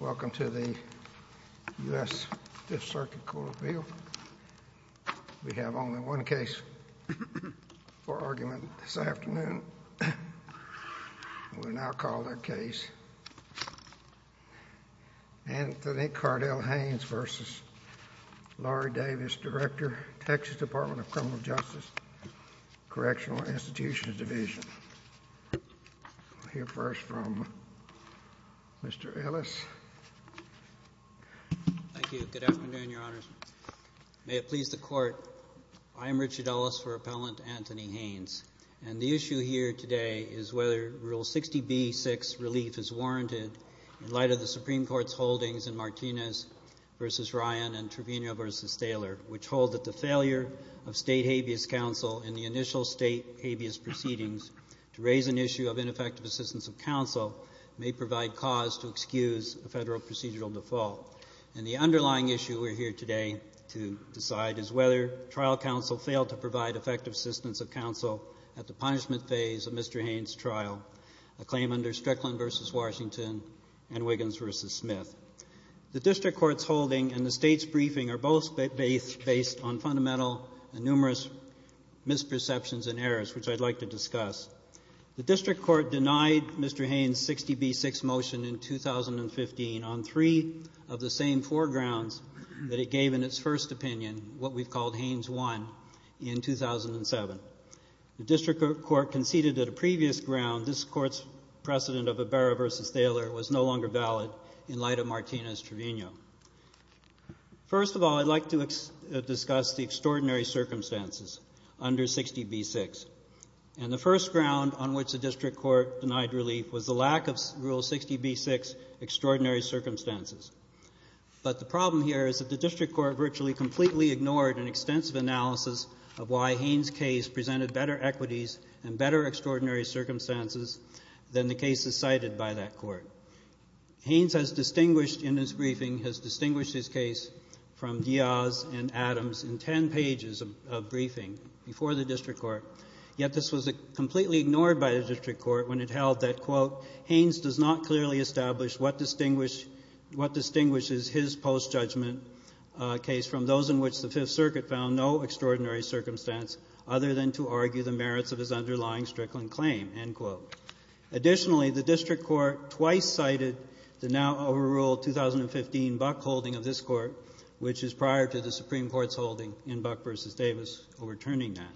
Welcome to the U.S. Fifth Circuit Court of Appeal. We have only one case for argument this afternoon. We will now call the case Anthony Cardell Haynes v. Lorie Davis, Director, Texas Department of Criminal Justice Correctional Institutions Division. We will hear first from Mr. Ellis. Richard Ellis, Appellant, Texas Department of Criminal Justice Correctional Institutions Division Thank you. Good afternoon, Your Honors. May it please the Court, I am Richard Ellis for Appellant Anthony Haynes, and the issue here today is whether Rule 60b-6 relief is warranted in light of the Supreme Court's holdings in Martinez v. Ryan and Trevino v. Smith's proceedings to raise an issue of ineffective assistance of counsel may provide cause to excuse a Federal procedural default. And the underlying issue we are here today to decide is whether trial counsel failed to provide effective assistance of counsel at the punishment phase of Mr. Haynes' trial, a claim under Strickland v. Washington and Wiggins v. Smith. The district court's holding and the State's briefing are both based on fundamental and numerous misperceptions and errors, which I'd like to discuss. The district court denied Mr. Haynes' 60b-6 motion in 2015 on three of the same four grounds that it gave in its first opinion, what we've called Haynes' one, in 2007. The district court conceded that a previous ground, this Court's precedent of Ibarra v. Thaler was no longer valid in light of Martinez v. Trevino. First of all, I'd like to discuss the extraordinary circumstances under 60b-6. And the first ground on which the district court denied relief was the lack of Rule 60b-6 extraordinary circumstances. But the problem here is that the district court virtually completely ignored an extensive analysis of why Haynes' case presented better equities and better extraordinary circumstances than the cases cited by that court. Haynes has distinguished in his briefing, has distinguished his case from Diaz and Adams in ten pages of briefing before the district court. Yet this was completely ignored by the district court when it held that, quote, Haynes does not clearly establish what distinguishes his post-judgment case from those in which the Fifth Circuit found no extraordinary circumstance other than to argue the merits of his underlying Strickland claim, end quote. Additionally, the district court twice cited the now overruled 2015 Buck holding of this Court, which is prior to the Supreme Court's holding in Buck v. Davis overturning that.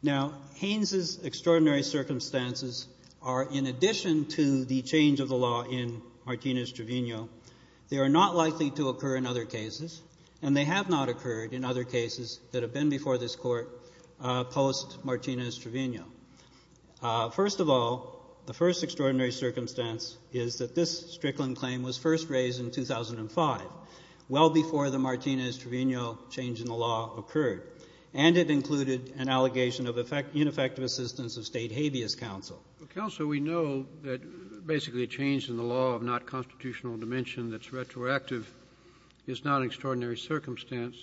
Now, Haynes' extraordinary circumstances are, in addition to the change of the law in Martinez v. Trevino, they are not likely to occur in other cases, and they have not occurred in Martinez v. Trevino. First of all, the first extraordinary circumstance is that this Strickland claim was first raised in 2005, well before the Martinez v. Trevino change in the law occurred, and it included an allegation of ineffective assistance of State habeas counsel. Kennedy. Counsel, we know that basically a change in the law of not constitutional dimension that's retroactive is not an extraordinary circumstance.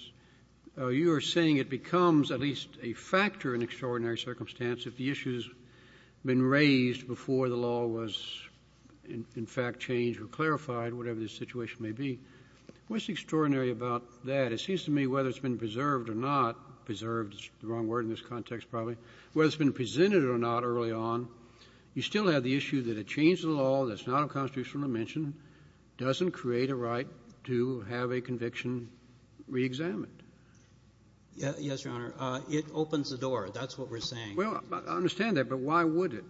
You are saying it becomes at least a factor in extraordinary circumstance if the issue has been raised before the law was in fact changed or clarified, whatever the situation may be. What's extraordinary about that? It seems to me whether it's been preserved or not preserved is the wrong word in this context, probably, whether it's been presented or not early on, you still have the issue that a change in the law that's not of constitutional dimension doesn't create a right to have a conviction reexamined. Yes, Your Honor. It opens the door. That's what we're saying. Well, I understand that, but why would it?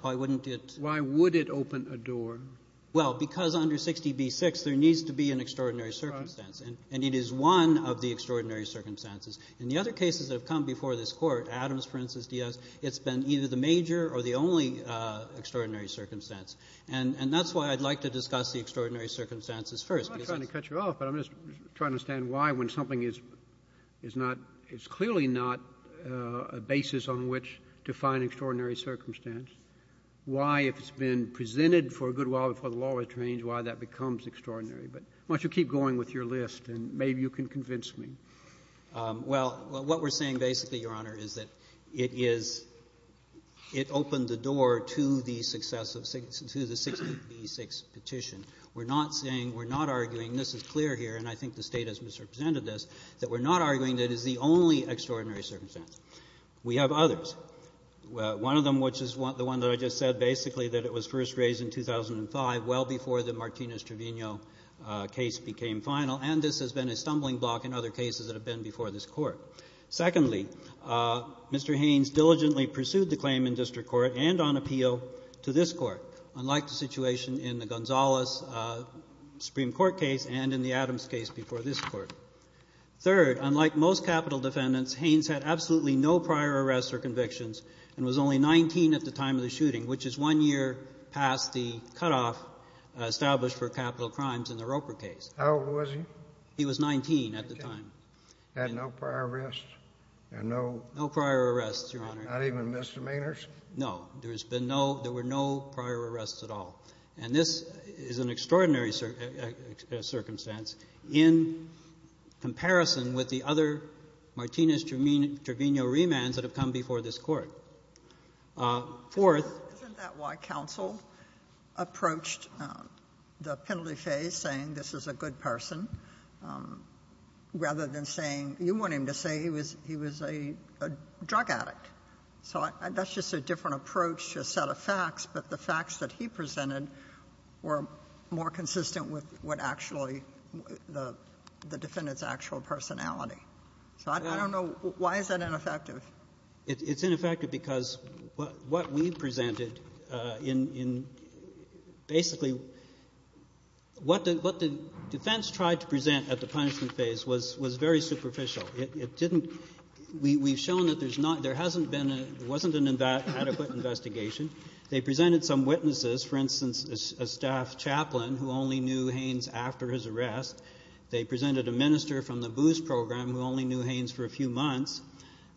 Why wouldn't it? Why would it open a door? Well, because under 60b-6, there needs to be an extraordinary circumstance. And it is one of the extraordinary circumstances. In the other cases that have come before this Court, Adams, Princes, Diaz, it's been either the major or the only extraordinary circumstance. And that's why I'd like to discuss the extraordinary circumstances first. I'm not trying to cut you off, but I'm just trying to understand why, when something is not — is clearly not a basis on which to find extraordinary circumstance, why, if it's been presented for a good while before the law was changed, why that becomes extraordinary? But why don't you keep going with your list, and maybe you can convince me. Well, what we're saying basically, Your Honor, is that it is — it opened the door to the success of — to the 60b-6 petition. We're not saying — we're not arguing — this is clear here, and I think the State has misrepresented this — that we're not arguing that it's the only extraordinary circumstance. We have others. One of them, which is the one that I just said, basically, that it was first raised in 2005, well before the Martinez-Trevino case became final, and this has been a stumbling block in other cases that have been before this Court. Secondly, Mr. Haynes diligently pursued the claim in district court and on appeal to this Court, unlike the situation in the Gonzales Supreme Court case and in the Adams case before this Court. Third, unlike most capital defendants, Haynes had absolutely no prior arrests or convictions and was only 19 at the time of the shooting, which is one year past the cutoff established for capital crimes in the Roper case. How old was he? He was 19 at the time. Had no prior arrests and no — No prior arrests, Your Honor. Not even misdemeanors? No. There has been no — there were no prior arrests at all. And this is an extraordinary circumstance in comparison with the other Martinez-Trevino remands that have come before this Court. Fourth — Isn't that why counsel approached the penalty phase, saying this is a good person, rather than saying — you want him to say he was — he was a drug addict. So that's just a different approach to a set of facts, but the facts that he presented were more consistent with what actually the defendant's actual personality. So I don't know — why is that ineffective? It's ineffective because what we presented in — basically, what the defense tried to present at the punishment phase was very superficial. It didn't — we've shown that there's not — there hasn't been a — there wasn't an adequate investigation. They presented some witnesses, for instance, a staff chaplain who only knew Haynes after his arrest. They presented a minister from the BOOS program who only knew Haynes for a few months.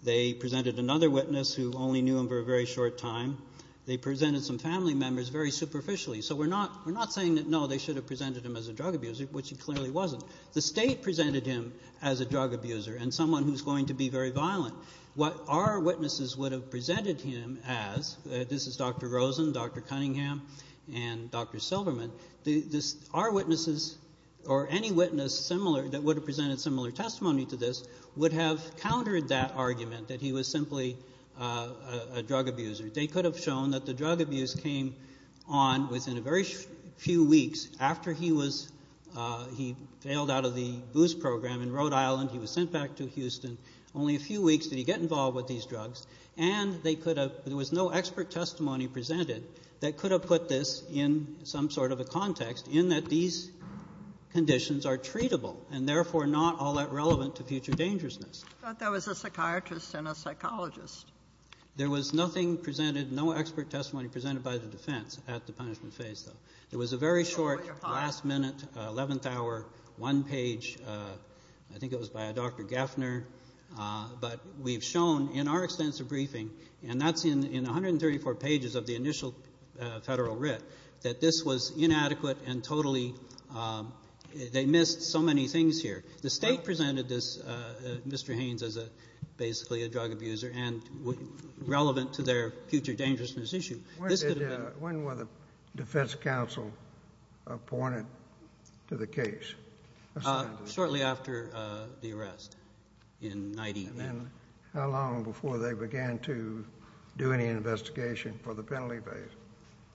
They presented another witness who only knew him for a very short time. They presented some family members very superficially. So we're not — we're not saying that, no, they should have presented him as a drug abuser, which he clearly wasn't. The state presented him as a drug abuser and someone who's going to be very violent. What our witnesses would have presented him as — this is Dr. Rosen, Dr. Cunningham, and Dr. Silverman — our witnesses or any witness similar that would have presented similar testimony to this would have countered that argument that he was simply a drug abuser. They could have shown that the drug abuse came on within a very few weeks after he was — he failed out of the BOOS program in Rhode Island, he was sent back to Houston. Only a few weeks did he get involved with these drugs, and they could have — there was no expert testimony presented that could have put this in some sort of a context in that these conditions are treatable and therefore not all that relevant to future dangerousness. But there was a psychiatrist and a psychologist. There was nothing presented, no expert testimony presented by the defense at the punishment phase, though. It was a very short, last-minute, eleventh-hour, one-page — I think it was by a Dr. Gaffner. But we've shown in our extensive briefing, and that's in 134 pages of the initial federal writ, that this was inadequate and totally — they missed so many things here. The state presented this — Mr. Haynes as basically a drug abuser and relevant to their future dangerousness issue. This could have been — When were the defense counsel appointed to the case? Shortly after the arrest, in 19 — And how long before they began to do any investigation for the penalty phase?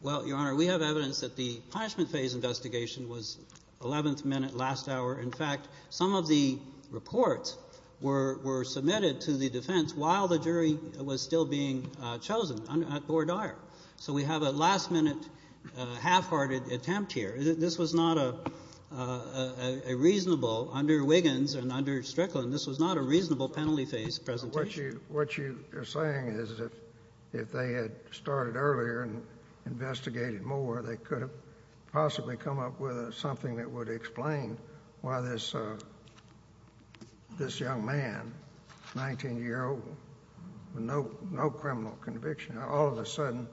Well, Your Honor, we have evidence that the punishment phase investigation was 11th minute, last hour. In fact, some of the reports were submitted to the defense while the jury was still being chosen at Bordier. So we have a last-minute, half-hearted attempt here. This was not a reasonable — under Wiggins and under Strickland, this was not a reasonable penalty phase presentation. What you're saying is if they had started earlier and investigated more, they could have possibly come up with something that would explain why this young man, 19-year-old, with no criminal conviction, all of a sudden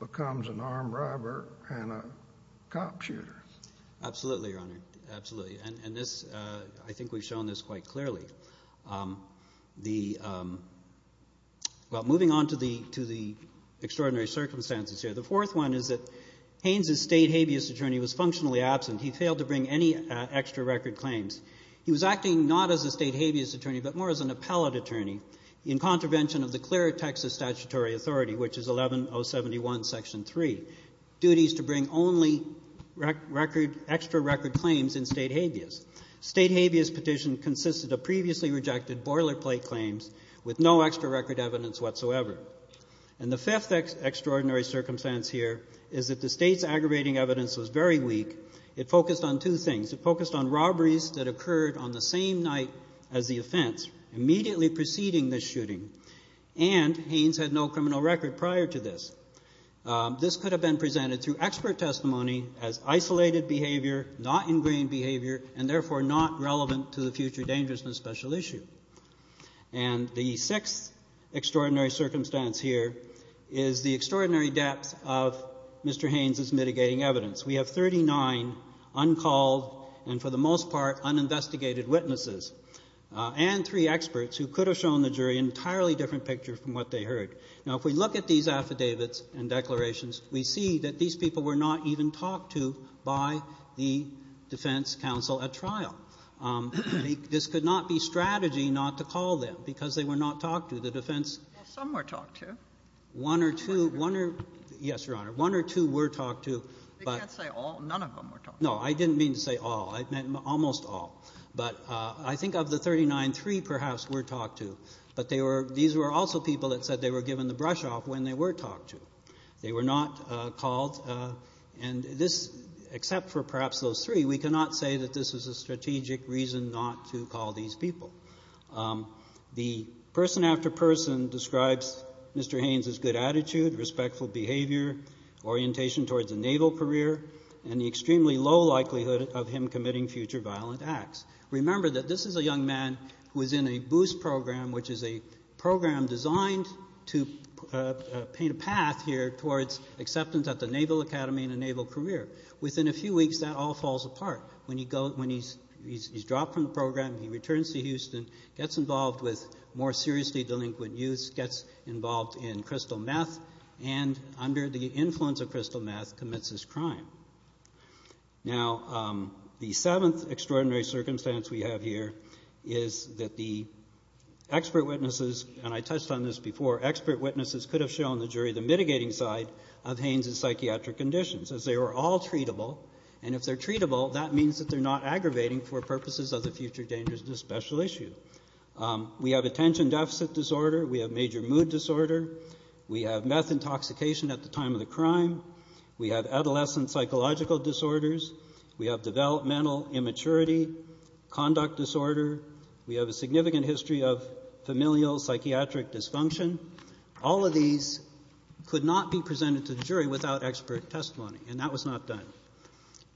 becomes an armed robber and a cop shooter. Absolutely, Your Honor, absolutely. And this — I think we've shown this quite clearly. The — well, moving on to the extraordinary circumstances here, the fourth one is that Haynes' state habeas attorney was functionally absent. He failed to bring any extra record claims. He was acting not as a state habeas attorney, but more as an appellate attorney. In contravention of the clearer Texas statutory authority, which is 11-071, Section 3, duties to bring only record — extra record claims in state habeas. State habeas petition consisted of previously rejected boilerplate claims with no extra record evidence whatsoever. And the fifth extraordinary circumstance here is that the state's aggravating evidence was very weak. It focused on two things. It focused on robberies that occurred on the same night as the offense, immediately preceding the shooting. And Haynes had no criminal record prior to this. This could have been presented through expert testimony as isolated behavior, not ingrained behavior, and therefore not relevant to the future dangerousness special issue. And the sixth extraordinary circumstance here is the extraordinary depth of Mr. Haynes' mitigating evidence. We have 39 uncalled and, for the most part, uninvestigated witnesses and three experts who could have shown the jury an entirely different picture from what they heard. Now, if we look at these affidavits and declarations, we see that these people were not even talked to by the defense counsel at trial. This could not be strategy not to call them, because they were not talked to. The defense — Well, some were talked to. One or two — one or — yes, Your Honor. One or two were talked to, but — None of them were talked to. No, I didn't mean to say all. I meant almost all. But I think of the 39, three perhaps were talked to. But they were — these were also people that said they were given the brush off when they were talked to. They were not called. And this — except for perhaps those three, we cannot say that this is a strategic reason not to call these people. The person after person describes Mr. Haynes' good attitude, respectful behavior, orientation towards a naval career, and the extremely low likelihood of him committing future violent acts. Remember that this is a young man who is in a BOOST program, which is a program designed to paint a path here towards acceptance at the Naval Academy and a naval career. Within a few weeks, that all falls apart. When he goes — when he's dropped from the program, he returns to Houston, gets involved with more seriously delinquent youths, gets involved in crystal meth, and under the influence of crystal meth commits his crime. Now, the seventh extraordinary circumstance we have here is that the expert witnesses — and I touched on this before — expert witnesses could have shown the jury the mitigating side of Haynes' psychiatric conditions, as they were all treatable. And if they're treatable, that means that they're not aggravating for purposes of the future dangers of this special issue. We have attention deficit disorder. We have major mood disorder. We have meth intoxication at the time of the crime. We have adolescent psychological disorders. We have developmental immaturity, conduct disorder. We have a significant history of familial psychiatric dysfunction. All of these could not be presented to the jury without expert testimony, and that was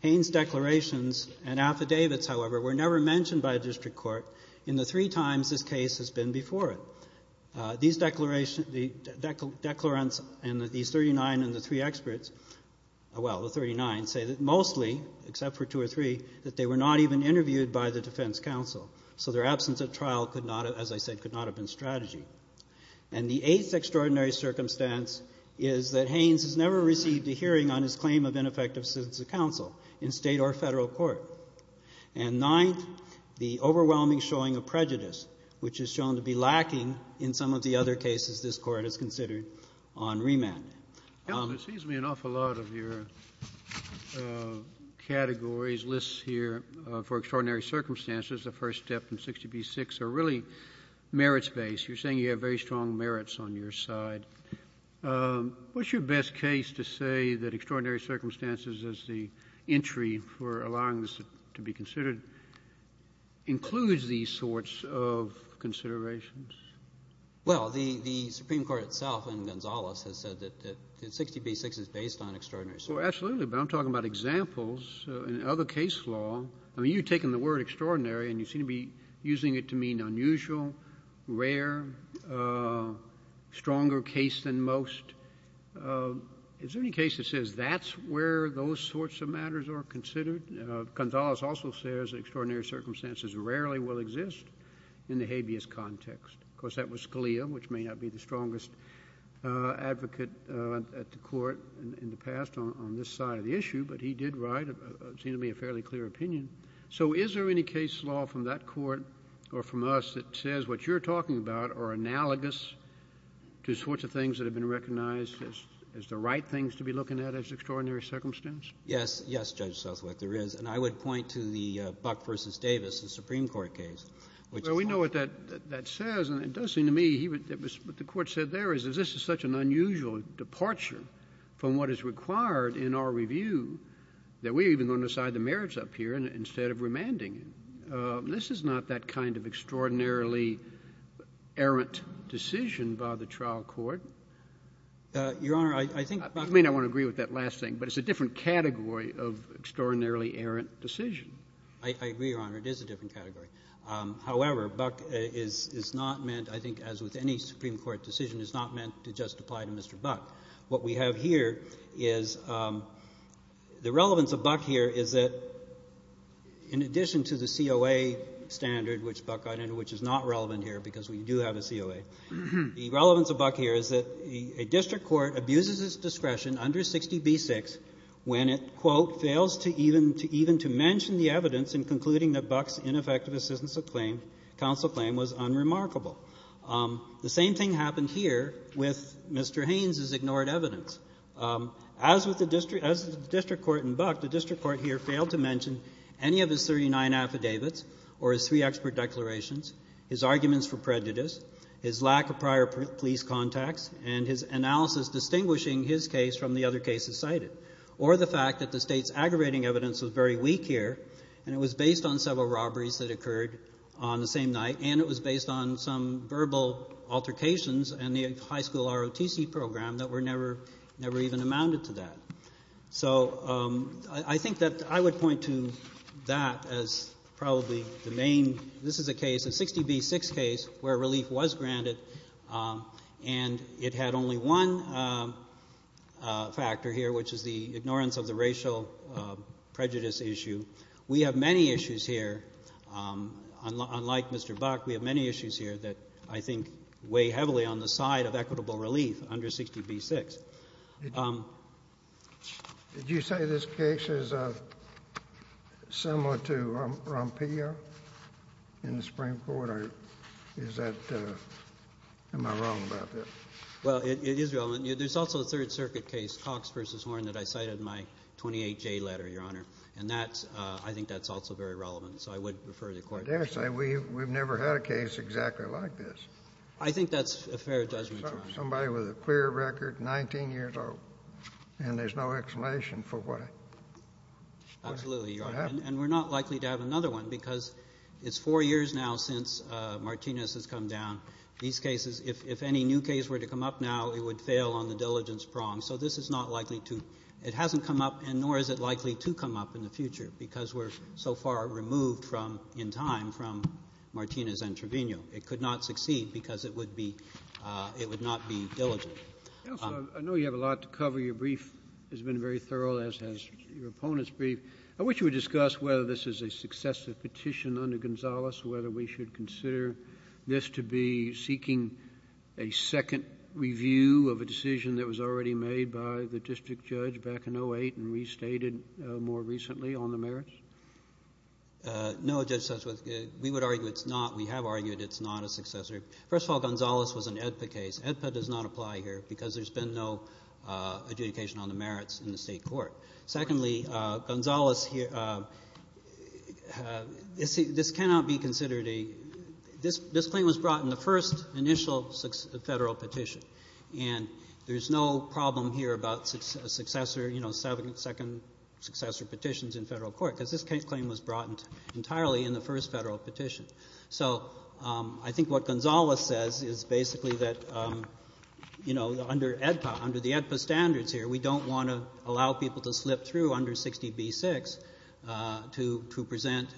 Haynes' declarations and affidavits, however, were never mentioned by a district court in the three times this case has been before it. These declarations — the declarants and these 39 and the three experts — well, the 39 — say that mostly, except for two or three, that they were not even interviewed by the defense counsel. So their absence at trial could not, as I said, could not have been strategy. And the eighth extraordinary circumstance is that Haynes has never received a hearing on his claim of ineffective citizen counsel in state or federal court. And ninth, the overwhelming showing of prejudice, which is shown to be lacking in some of the other cases this Court has considered on remand. JUSTICE SCALIA. Counsel, it seems to me an awful lot of your categories, lists here for extraordinary circumstances, the first step and 60 v. 6, are really merits-based. You're saying you have very strong merits on your side. What's your best case to say that extraordinary circumstances is the entry for allowing this to be considered includes these sorts of considerations? GENERAL VERRILLI. Well, the Supreme Court itself and Gonzales has said that 60 v. 6 is based on extraordinary circumstances. JUSTICE SCALIA. Absolutely. But I'm talking about examples in other case law. I mean, you've taken the word extraordinary, and you seem to be using it to mean unusual, rare, stronger case than most. Is there any case that says that's where those sorts of matters are considered? Gonzales also says that extraordinary circumstances rarely will exist in the habeas context. Of course, that was Scalia, which may not be the strongest advocate at the Court in the past on this side of the issue, but he did write what seemed to be a fairly clear opinion. So is there any case law from that Court or from us that says what you're talking about are analogous to sorts of things that have been recognized as the right things to be looking at as extraordinary circumstance? GENERAL VERRILLI. Yes. Yes, Judge Southwick, there is. And I would point to the Buck v. Davis, the Supreme Court case, which is one of them. JUSTICE SCALIA. Well, we know what that says, and it does seem to me he would — what the Court said there is that this is such an unusual departure from what is required in our review that we're even going to decide the merits up here instead of remanding it. This is not that kind of extraordinarily errant decision by the trial court. Your Honor, I think — JUSTICE SCALIA. I may not want to agree with that last thing, but it's a different category of extraordinarily errant decision. GENERAL VERRILLI. I agree, Your Honor. It is a different category. However, Buck is not meant, I think, as with any Supreme Court decision, is not meant to just apply to Mr. Buck. What we have here is the relevance of Buck here is that in addition to the COA standard, which Buck got into, which is not relevant here because we do have a COA, the relevance of Buck here is that a district court abuses its discretion under 60b-6 when it, quote, "...fails even to mention the evidence in concluding that Buck's ineffective assistance of claim, counsel claim, was unremarkable." The same thing happened here with Mr. Haynes's ignored evidence. As with the district court in Buck, the district court here failed to mention any of his 39 affidavits or his three expert declarations, his arguments for prejudice, his lack of prior police contacts, and his analysis distinguishing his case from the other cases cited, or the fact that the State's aggravating evidence was very weak here, and it was based on several robberies that occurred on the same night, and it was based on some verbal altercations in the high school ROTC program that were never even amounted to that. So I think that I would point to that as probably the main. This is a case, a 60b-6 case where relief was granted, and it had only one factor here, which is the ignorance of the racial prejudice issue. We have many issues here. Unlike Mr. Buck, we have many issues here that I think weigh heavily on the side of equitable relief under 60b-6. Did you say this case is similar to Rompillo in the Supreme Court? Or is that — am I wrong about that? Well, it is relevant. There's also a Third Circuit case, Cox v. Horn, that I cited in my 28J letter, Your Honor, and that's — I think that's also very relevant. So I would refer you to the court. I daresay we've never had a case exactly like this. I think that's a fair judgment. Somebody with a clear record, 19 years old, and there's no explanation for why. Absolutely, Your Honor. And we're not likely to have another one because it's four years now since Martinez has come down. These cases — if any new case were to come up now, it would fail on the diligence prong. So this is not likely to — it hasn't come up, and nor is it likely to come up in the future because we're so far removed from — in time from Martinez and Trevino. It could not succeed because it would be — it would not be diligent. Counsel, I know you have a lot to cover. Your brief has been very thorough, as has your opponent's brief. I wish you would discuss whether this is a successive petition under Gonzales, whether we should consider this to be seeking a second review of a decision that was already made by the district judge back in 08 and restated more recently on the merits. No, Judge Sussman. We would argue it's not. We have argued it's not a successor. First of all, Gonzales was an AEDPA case. AEDPA does not apply here because there's been no adjudication on the merits in the state court. Secondly, Gonzales — this cannot be considered a — this claim was brought in the first initial federal petition, and there's no problem here about successor — you know, second successor petitions in federal court because this claim was brought entirely in the first federal petition. So I think what Gonzales says is basically that, you know, under AEDPA, under the AEDPA standards here, we don't want to allow people to slip through under 60b-6 to present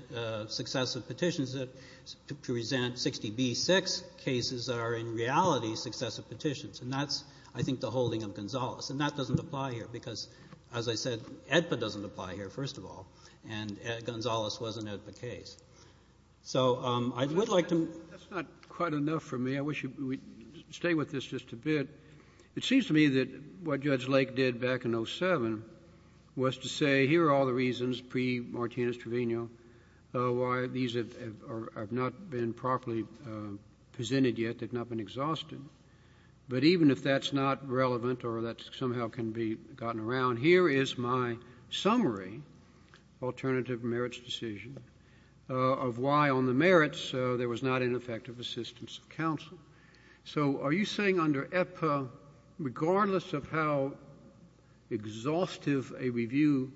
successive petitions, to present 60b-6 cases that are in reality successive petitions. And that's, I think, the holding of Gonzales. And that doesn't apply here because, as I said, AEDPA doesn't apply here, first of all, and Gonzales was an AEDPA case. So I would like to — JUSTICE SCALIA. That's not quite enough for me. I wish you would stay with this just a bit. It seems to me that what Judge Lake did back in 07 was to say, here are all the reasons pre-Martinez-Trevino why these have — have not been properly presented yet, they've not been exhausted. But even if that's not relevant or that somehow can be gotten around, here is my of why on the merits there was not an effective assistance of counsel. So are you saying under AEDPA, regardless of how exhaustive a review,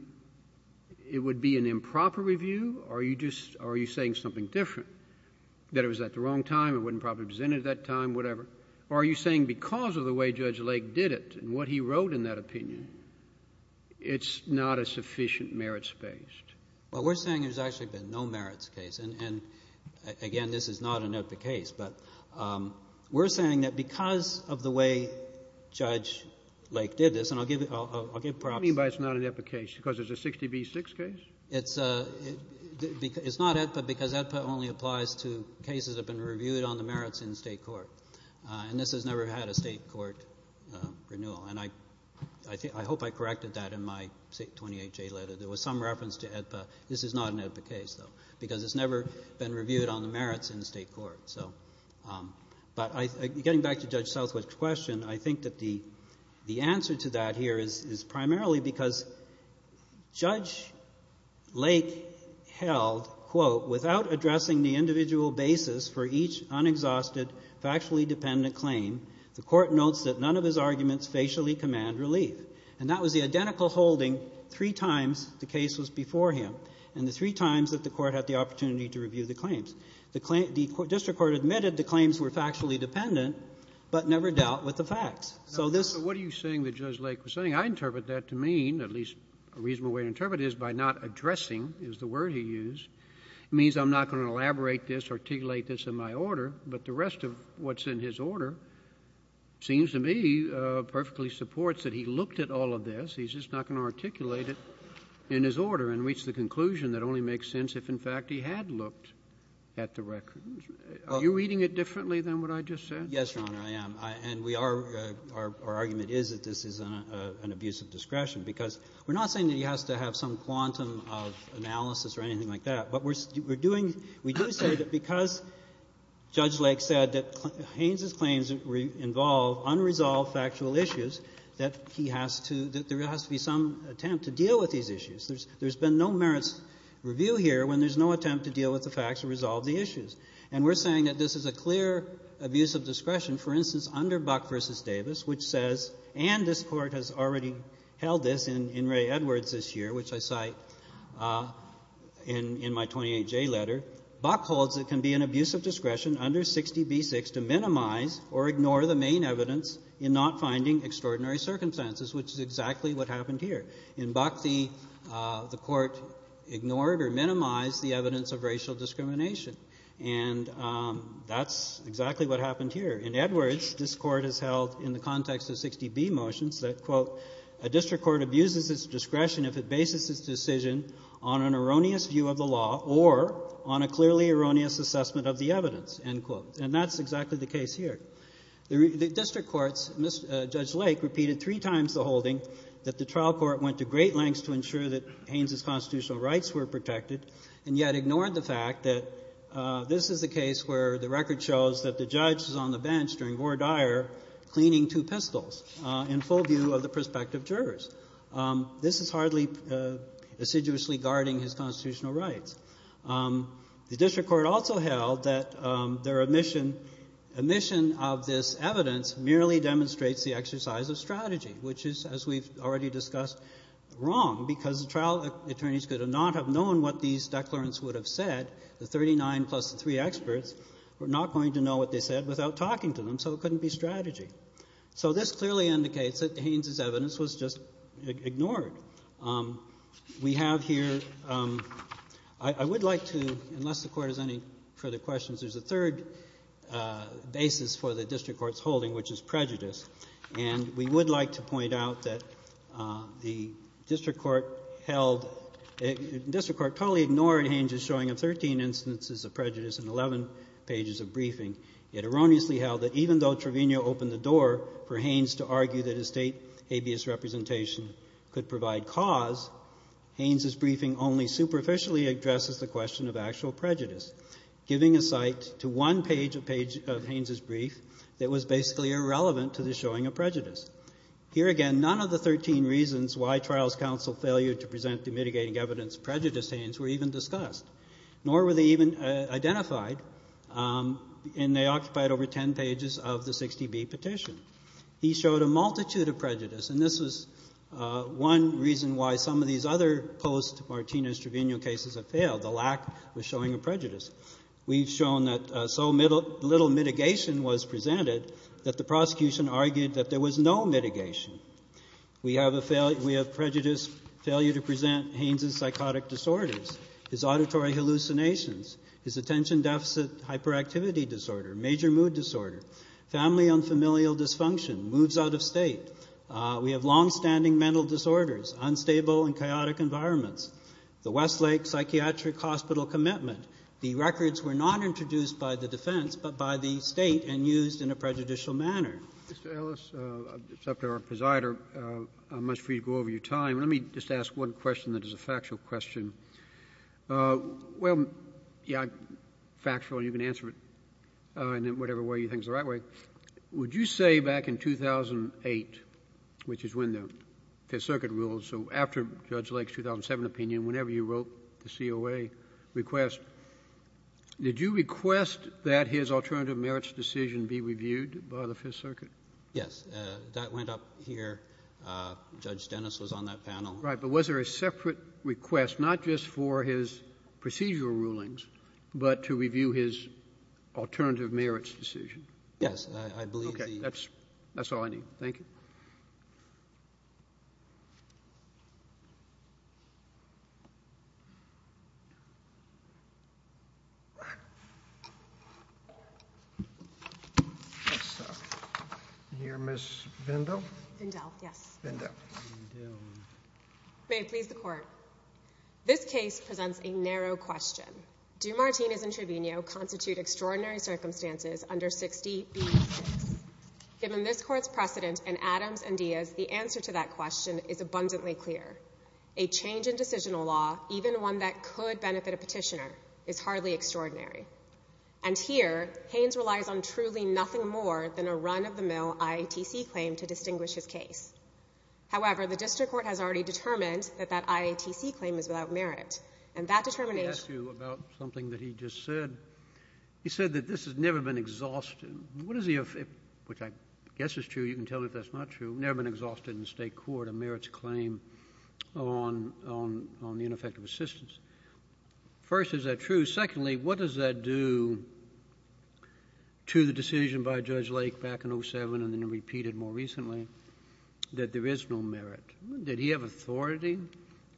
it would be an improper review? Are you just — are you saying something different, that it was at the wrong time, it wasn't properly presented at that time, whatever? Or are you saying because of the way Judge Lake did it and what he wrote in that opinion, it's not a sufficient merits-based? Well, we're saying there's actually been no merits case. And, again, this is not an AEDPA case. But we're saying that because of the way Judge Lake did this, and I'll give — I'll give props — You mean by it's not an AEDPA case because it's a 60B6 case? It's — it's not AEDPA because AEDPA only applies to cases that have been reviewed on the merits in the State court. And this has never had a State court renewal. And I — I hope I corrected that in my 28J letter. There was some reference to AEDPA. This is not an AEDPA case, though, because it's never been reviewed on the merits in the State court. So — but I — getting back to Judge Southwick's question, I think that the answer to that here is primarily because Judge Lake held, quote, without addressing the individual basis for each unexhausted factually dependent claim, the Court notes that none of his arguments facially command relief. And that was the identical holding three times the case was before him and the three times that the Court had the opportunity to review the claims. The District Court admitted the claims were factually dependent, but never dealt with the facts. So this — So what are you saying that Judge Lake was saying? I interpret that to mean, at least a reasonable way to interpret it, is by not addressing is the word he used, it means I'm not going to elaborate this, articulate this in my order, but the rest of what's in his order seems to me perfectly supports that he looked at all of this. He's just not going to articulate it in his order and reach the conclusion that only makes sense if, in fact, he had looked at the records. Are you reading it differently than what I just said? Yes, Your Honor, I am. And we are — our argument is that this is an abuse of discretion, because we're not saying that he has to have some quantum of analysis or anything like that. But we're doing — we do say that because Judge Lake said that Haynes's claims involve unresolved factual issues, that he has to — that there has to be some attempt to deal with these issues. There's been no merits review here when there's no attempt to deal with the facts or resolve the issues. And we're saying that this is a clear abuse of discretion, for instance, under Buck v. Davis, which says — and this Court has already held this in Ray Edwards this year, which I cite in my 28J letter — Buck holds it can be an abuse of discretion under 60b-6 to minimize or ignore the main evidence in not finding extraordinary circumstances, which is exactly what happened here. In Buck, the — the Court ignored or minimized the evidence of racial discrimination. And that's exactly what happened here. In Edwards, this Court has held in the context of 60b motions that, quote, a district court abuses its discretion if it bases its decision on an erroneous view of the law or on a clearly erroneous assessment of the evidence. End quote. And that's exactly the case here. The district courts — Judge Lake repeated three times the holding that the trial court went to great lengths to ensure that Haynes's constitutional rights were protected and yet ignored the fact that this is the case where the record shows that the judge is on the bench during Vore Dyer cleaning two pistols in full view of the prospective jurors. This is hardly assiduously guarding his constitutional rights. The district court also held that their omission — omission of this evidence merely demonstrates the exercise of strategy, which is, as we've already discussed, wrong, because the trial attorneys could not have known what these declarants would have said. The 39 plus the three experts were not going to know what they said without talking to them, so it couldn't be strategy. So this clearly indicates that Haynes's evidence was just ignored. We have here — I would like to — unless the Court has any further questions, there's a third basis for the district court's holding, which is prejudice. And we would like to point out that the district court held — the district court totally ignored Haynes's showing of 13 instances of prejudice in 11 pages of briefing. It erroneously held that even though Trevino opened the door for Haynes to argue that a State habeas representation could provide cause, Haynes's briefing only superficially addresses the question of actual prejudice, giving a site to one page of Haynes's brief that was basically irrelevant to the showing of prejudice. Here again, none of the 13 reasons why trials counsel failed to present the mitigating evidence of prejudice to Haynes were even discussed, nor were they even identified, and they occupied over 10 pages of the 60B petition. He showed a multitude of prejudice, and this was one reason why some of these other post-Martinez-Trevino cases have failed, the lack of showing of prejudice. We've shown that so little mitigation was presented that the prosecution argued that there was no mitigation. We have prejudice, failure to present Haynes's psychotic disorders, his auditory hallucinations, his attention deficit hyperactivity disorder, major mood disorder, family and familial dysfunction, moods out of state. We have longstanding mental disorders, unstable and chaotic environments. The Westlake Psychiatric Hospital commitment, the records were not introduced by the defense, but by the State and used in a prejudicial manner. Mr. Ellis, it's up to our presider. I'm much free to go over your time. Let me just ask one question that is a factual question. Well, yeah, factual, you can answer it in whatever way you think is the right way. Would you say back in 2008, which is when the Fifth Circuit ruled, so after Judge Lake's 2007 opinion, whenever you wrote the COA request, did you request that his alternative merits decision be reviewed by the Fifth Circuit? Yes. That went up here. Judge Dennis was on that panel. Right. But was there a separate request, not just for his procedural rulings, but to review his alternative merits decision? Yes. I believe the ---- Okay. That's all I need. Thank you. Mrs. Vendel? Vendel, yes. Vendel. May it please the Court. This case presents a narrow question. Do Martinez and Trevino constitute extraordinary circumstances under 60B6? Given this Court's precedent in Adams and Diaz, the answer to that question is abundantly clear. A change in decisional law, even one that could benefit a petitioner, is hardly extraordinary. And here, Haynes relies on truly nothing more than a run-of-the-mill IATC claim to distinguish his case. However, the district court has already determined that that IATC claim is without merit. And that determination ---- Let me ask you about something that he just said. He said that this has never been exhausted. What is the effect? Which I guess is true. You can tell me if that's not true. Never been exhausted in the state court a merits claim on the ineffective assistance. First, is that true? Secondly, what does that do to the decision by Judge Lake back in 07 and then that there is no merit? Did he have authority?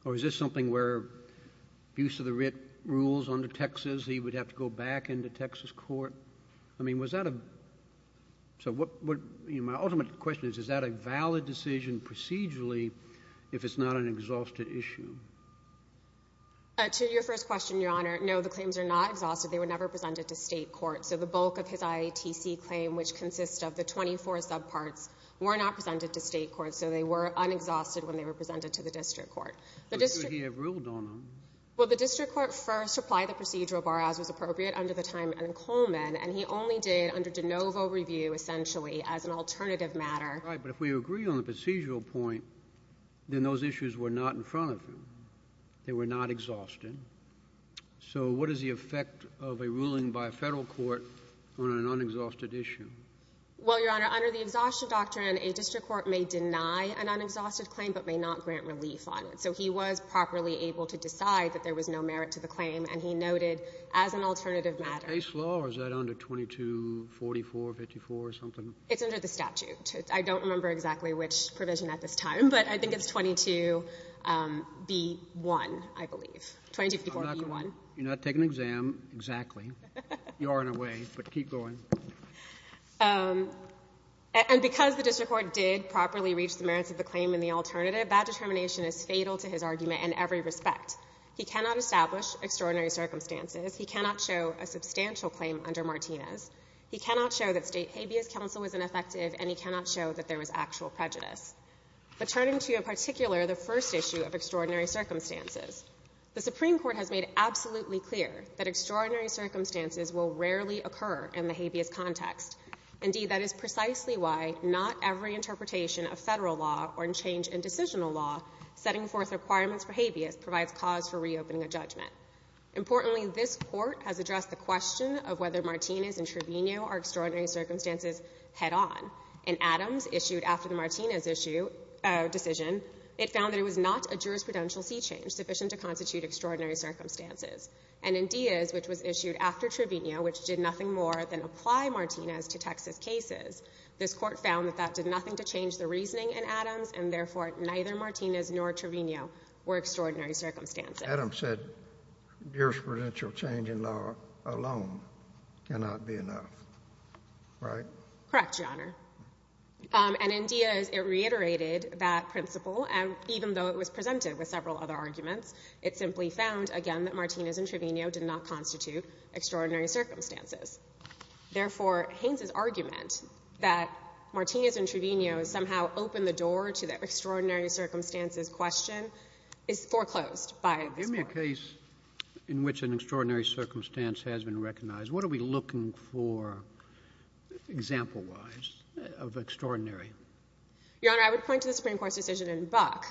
Or is this something where abuse of the writ rules under Texas, he would have to go back into Texas court? I mean, was that a ---- So what ---- You know, my ultimate question is, is that a valid decision procedurally if it's not an exhausted issue? To your first question, Your Honor, no, the claims are not exhausted. They were never presented to state court. So the bulk of his IATC claim, which consists of the 24 subparts, were not presented to state court. So they were unexhausted when they were presented to the district court. But you have ruled on them. Well, the district court first applied the procedural bar as was appropriate under the time in Coleman. And he only did under DeNovo review, essentially, as an alternative matter. Right, but if we agree on the procedural point, then those issues were not in front of him. They were not exhausted. So what is the effect of a ruling by a federal court on an unexhausted issue? Well, Your Honor, under the exhaustion doctrine, a district court may deny an unexhausted claim but may not grant relief on it. So he was properly able to decide that there was no merit to the claim, and he noted as an alternative matter. Is that under 2244 or 54 or something? It's under the statute. I don't remember exactly which provision at this time, but I think it's 22B1, I believe, 2244B1. You're not taking an exam, exactly. You are in a way, but keep going. And because the district court did properly reach the merits of the claim in the alternative, that determination is fatal to his argument in every respect. He cannot establish extraordinary circumstances. He cannot show a substantial claim under Martinez. He cannot show that State habeas counsel was ineffective, and he cannot show that there was actual prejudice. But turning to, in particular, the first issue of extraordinary circumstances, the Supreme Court has made absolutely clear that extraordinary circumstances will rarely occur in the habeas context. Indeed, that is precisely why not every interpretation of Federal law or in change in decisional law setting forth requirements for habeas provides cause for reopening a judgment. Importantly, this Court has addressed the question of whether Martinez and Trevino are extraordinary circumstances head on. In Adams, issued after the Martinez issue decision, it found that it was not a jurisprudential sea change sufficient to constitute extraordinary circumstances. And in Diaz, which was issued after Trevino, which did nothing more than apply Martinez to Texas cases, this Court found that that did nothing to change the reasoning in Adams, and therefore, neither Martinez nor Trevino were extraordinary circumstances. Adams said jurisprudential change in law alone cannot be enough, right? Correct, Your Honor. And in Diaz, it reiterated that principle, and even though it was presented with confidence that Martinez and Trevino did not constitute extraordinary circumstances. Therefore, Haynes' argument that Martinez and Trevino somehow opened the door to the extraordinary circumstances question is foreclosed by this Court. Give me a case in which an extraordinary circumstance has been recognized. What are we looking for, example-wise, of extraordinary? Your Honor, I would point to the Supreme Court's decision in Buck.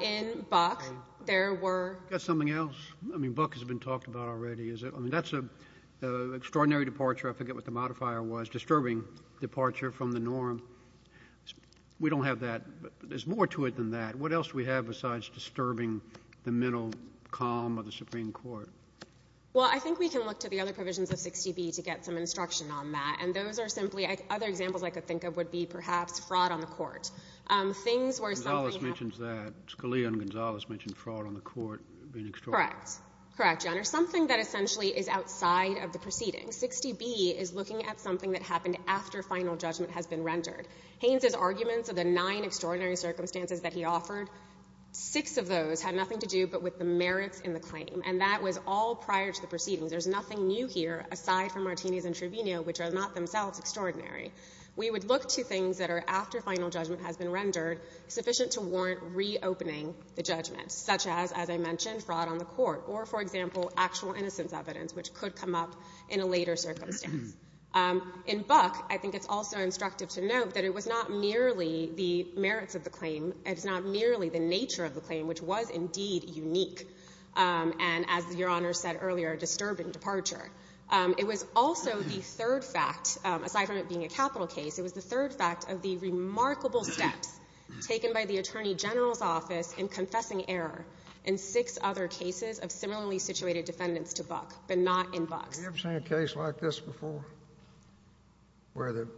In Buck, there were — Got something else? I mean, Buck has been talked about already. Is it — I mean, that's an extraordinary departure. I forget what the modifier was. Disturbing departure from the norm. We don't have that. There's more to it than that. What else do we have besides disturbing the mental calm of the Supreme Court? Well, I think we can look to the other provisions of 60B to get some instruction on that. And those are simply — other examples I could think of would be perhaps fraud on the Court. Things where something happens — Gonzales mentions that. Scalia and Gonzales mentioned fraud on the Court being extraordinary. Correct. Correct, Your Honor. Something that essentially is outside of the proceedings. 60B is looking at something that happened after final judgment has been rendered. Haynes's arguments of the nine extraordinary circumstances that he offered, six of those had nothing to do but with the merits in the claim. And that was all prior to the proceedings. There's nothing new here, aside from Martinez and Trevino, which are not themselves extraordinary. We would look to things that are after final judgment has been rendered, sufficient to warrant reopening the judgment, such as, as I mentioned, fraud on the Court, or, for example, actual innocence evidence, which could come up in a later circumstance. In Buck, I think it's also instructive to note that it was not merely the merits of the claim. It's not merely the nature of the claim, which was indeed unique and, as Your Honor said earlier, a disturbing departure. It was also the third fact, aside from it being a capital case, it was the third in six other cases of similarly situated defendants to Buck, but not in Bucks. Have you ever seen a case like this before, where you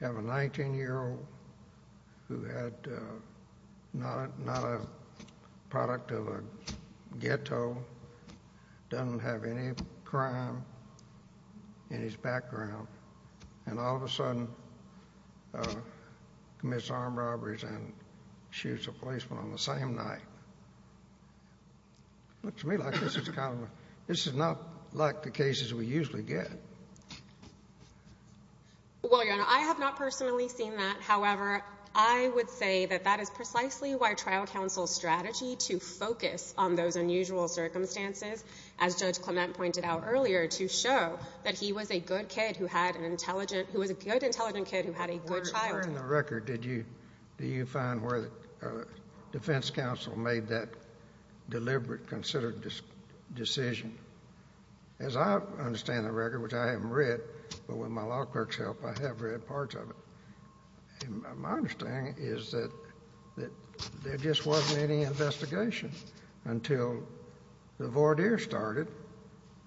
have a 19-year-old who had not a product of a ghetto, doesn't have any crime in his background, and all of a sudden commits armed robberies and shoots a policeman on the same night? Looks to me like this is kind of a—this is not like the cases we usually get. Well, Your Honor, I have not personally seen that. However, I would say that that is precisely why trial counsel's strategy to focus on those unusual circumstances, as Judge Clement pointed out earlier, to show that he was a good, intelligent kid who had a good childhood. Where in the record did you find where the defense counsel made that deliberate, considered decision? As I understand the record, which I haven't read, but with my law clerk's help, I have read parts of it. My understanding is that there just wasn't any investigation until the voir dire started,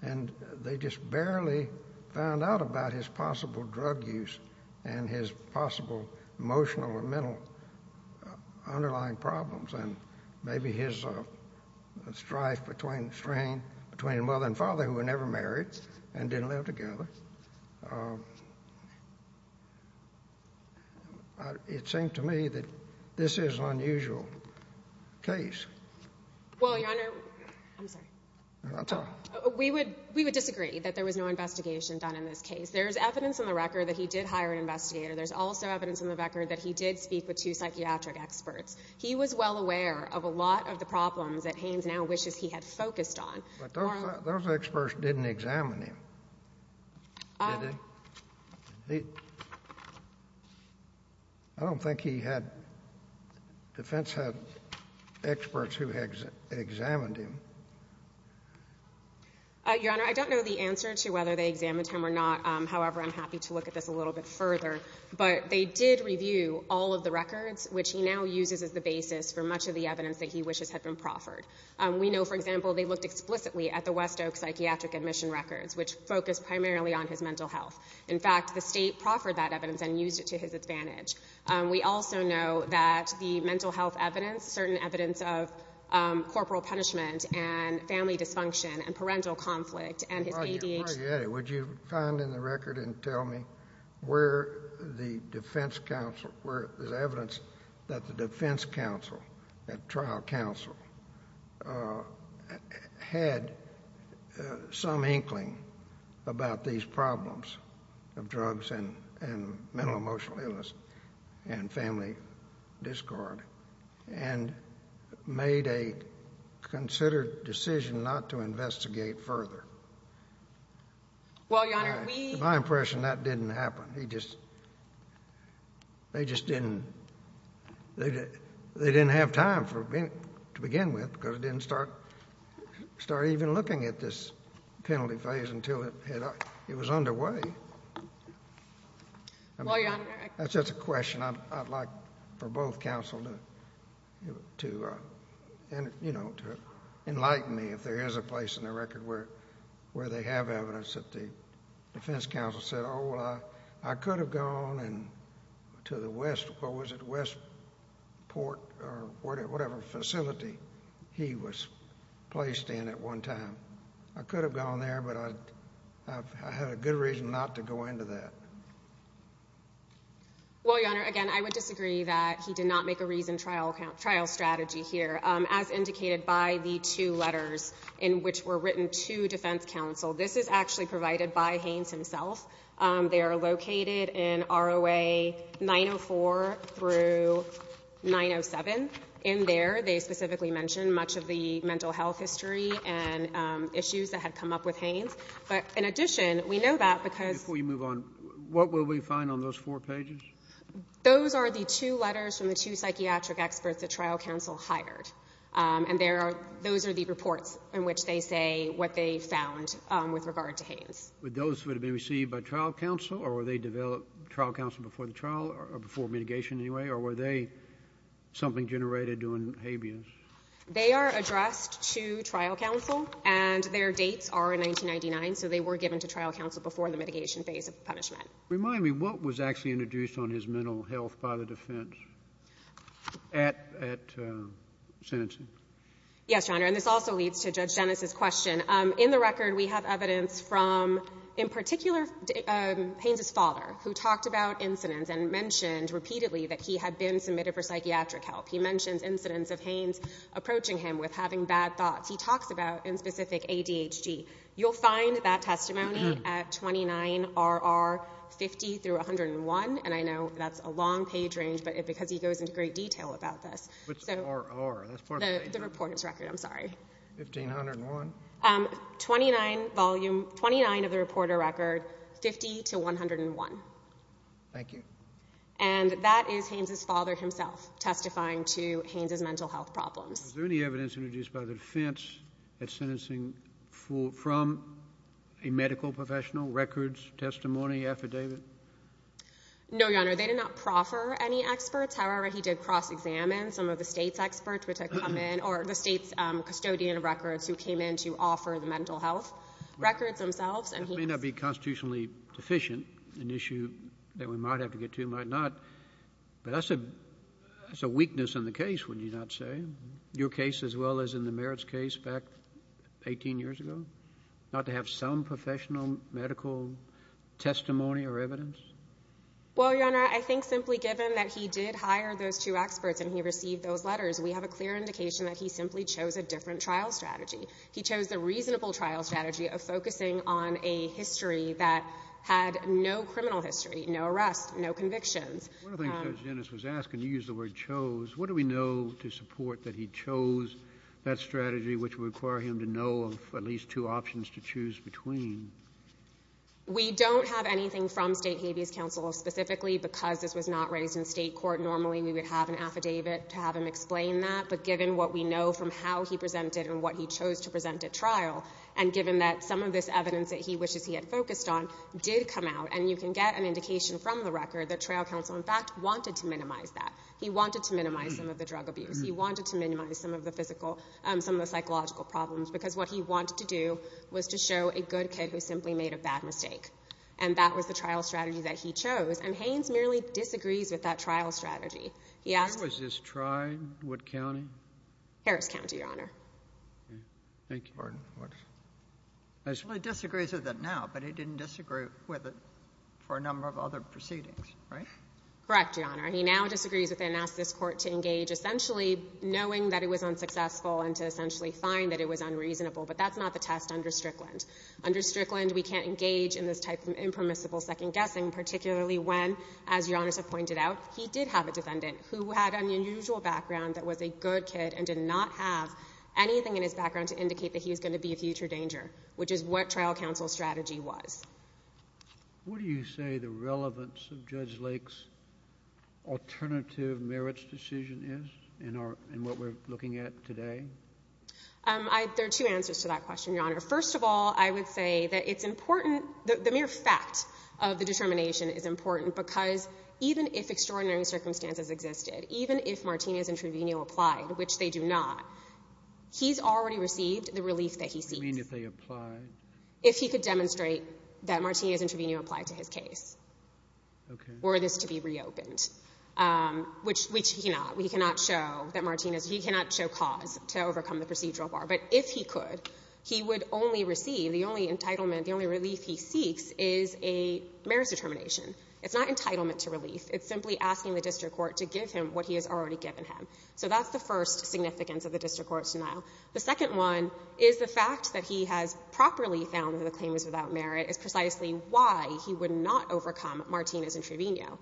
and they just barely found out about his possible drug use and his possible emotional and mental underlying problems, and maybe his strife between the mother and father, who were never married and didn't live together. It seemed to me that this is an unusual case. Well, Your Honor—I'm sorry. We would disagree that there was no investigation done in this case. There's evidence in the record that he did hire an investigator. There's also evidence in the record that he did speak with two psychiatric experts. He was well aware of a lot of the problems that Hanes now wishes he had focused on. But those experts didn't examine him, did they? I don't think he had—defense had experts who examined him. Your Honor, I don't know the answer to whether they examined him or not. However, I'm happy to look at this a little bit further. But they did review all of the records, which he now uses as the basis for much of the evidence that he wishes had been proffered. We know, for example, they looked explicitly at the West Oak psychiatric admission records, which focused primarily on his mental health. In fact, the state proffered that evidence and used it to his advantage. We also know that the mental health evidence, certain evidence of corporal punishment and family dysfunction and parental conflict and his ADHD— Well, Your Honor, would you find in the record and tell me where the defense counsel— about these problems of drugs and mental and emotional illness and family discord and made a considered decision not to investigate further? Well, Your Honor, we— My impression, that didn't happen. He just—they just didn't—they didn't have time to begin with because they didn't start even looking at this penalty phase until it was underway. Well, Your Honor— That's just a question I'd like for both counsel to enlighten me if there is a place in the record where they have evidence that the defense counsel said, I could have gone to the West—what was it—Westport or whatever facility he was placed in at one time. I could have gone there, but I had a good reason not to go into that. Well, Your Honor, again, I would disagree that he did not make a reasoned trial strategy here. As indicated by the two letters in which were written to defense counsel, this is actually provided by Haynes himself. They are located in ROA 904 through 907. In there, they specifically mention much of the mental health history and issues that had come up with Haynes. But in addition, we know that because— Before you move on, what will we find on those four pages? Those are the two letters from the two psychiatric experts the trial counsel hired, and there are—those are the reports in which they say what they found with regard to Haynes. But those would have been received by trial counsel, or were they developed—trial counsel before the trial or before mitigation anyway, or were they something generated during Habeas? They are addressed to trial counsel, and their dates are in 1999, so they were given to trial counsel before the mitigation phase of punishment. Remind me, what was actually introduced on his mental health by the defense at sentencing? Yes, Your Honor, and this also leads to Judge Dennis' question. In the record, we have evidence from, in particular, Haynes' father, who talked about incidents and mentioned repeatedly that he had been submitted for psychiatric help. He mentions incidents of Haynes approaching him with having bad thoughts. He talks about, in specific, ADHD. You'll find that testimony at 29RR50-101, and I know that's a long page range because he goes into great detail about this. Which RR? That's part of the page. The reporter's record, I'm sorry. 1501? 29 volume—29 of the reporter record, 50-101. Thank you. And that is Haynes' father himself testifying to Haynes' mental health problems. Was there any evidence introduced by the defense at sentencing from a medical professional, records, testimony, affidavit? No, Your Honor. They did not proffer any experts. However, he did cross-examine some of the State's experts which had come in or the State's custodian of records who came in to offer the mental health records themselves. That may not be constitutionally deficient, an issue that we might have to get to, might not, but that's a weakness in the case, would you not say? Your case as well as in the Merritt's case back 18 years ago? Not to have some professional medical testimony or evidence? Well, Your Honor, I think simply given that he did hire those two experts and he received those letters, we have a clear indication that he simply chose a different trial strategy. He chose the reasonable trial strategy of focusing on a history that had no criminal history, no arrests, no convictions. One of the things Judge Dennis was asking, you used the word chose, what do we know to support that he chose that strategy which would require him to know of at least two options to choose between? We don't have anything from State Habeas Counsel specifically because this was not raised in state court. Normally we would have an affidavit to have him explain that, but given what we know from how he presented and what he chose to present at trial and given that some of this evidence that he wishes he had focused on did come out and you can get an indication from the record that trial counsel in fact wanted to minimize that. He wanted to minimize some of the drug abuse. He wanted to minimize some of the physical, some of the psychological problems because what he wanted to do was to show a good kid who simply made a bad mistake, and that was the trial strategy that he chose. And Haynes merely disagrees with that trial strategy. Where was this tried? What county? Harris County, Your Honor. Thank you. Well, he disagrees with it now, but he didn't disagree with it for a number of other proceedings, right? Correct, Your Honor. He now disagrees with it and asks this Court to engage essentially knowing that it was unsuccessful and to essentially find that it was unreasonable, but that's not the test under Strickland. Under Strickland, we can't engage in this type of impermissible second-guessing, particularly when, as Your Honor has pointed out, he did have a defendant who had an unusual background that was a good kid and did not have anything in his background to indicate that he was going to be a future danger, which is what trial counsel's strategy was. What do you say the relevance of Judge Lake's alternative merits decision is in what we're looking at today? There are two answers to that question, Your Honor. First of all, I would say that it's important, the mere fact of the determination is important because even if extraordinary circumstances existed, even if Martinez intraveneo applied, which they do not, he's already received the relief that he seeks. I mean, if they applied. If he could demonstrate that Martinez intraveneo applied to his case. Okay. Were this to be reopened, which he cannot. He cannot show that Martinez — he cannot show cause to overcome the procedural bar. But if he could, he would only receive — the only entitlement, the only relief he seeks is a merits determination. It's not entitlement to relief. It's simply asking the district court to give him what he has already given him. So that's the first significance of the district court's denial. The second one is the fact that he has properly found that the claim is without merit is precisely why he would not overcome Martinez intraveneo.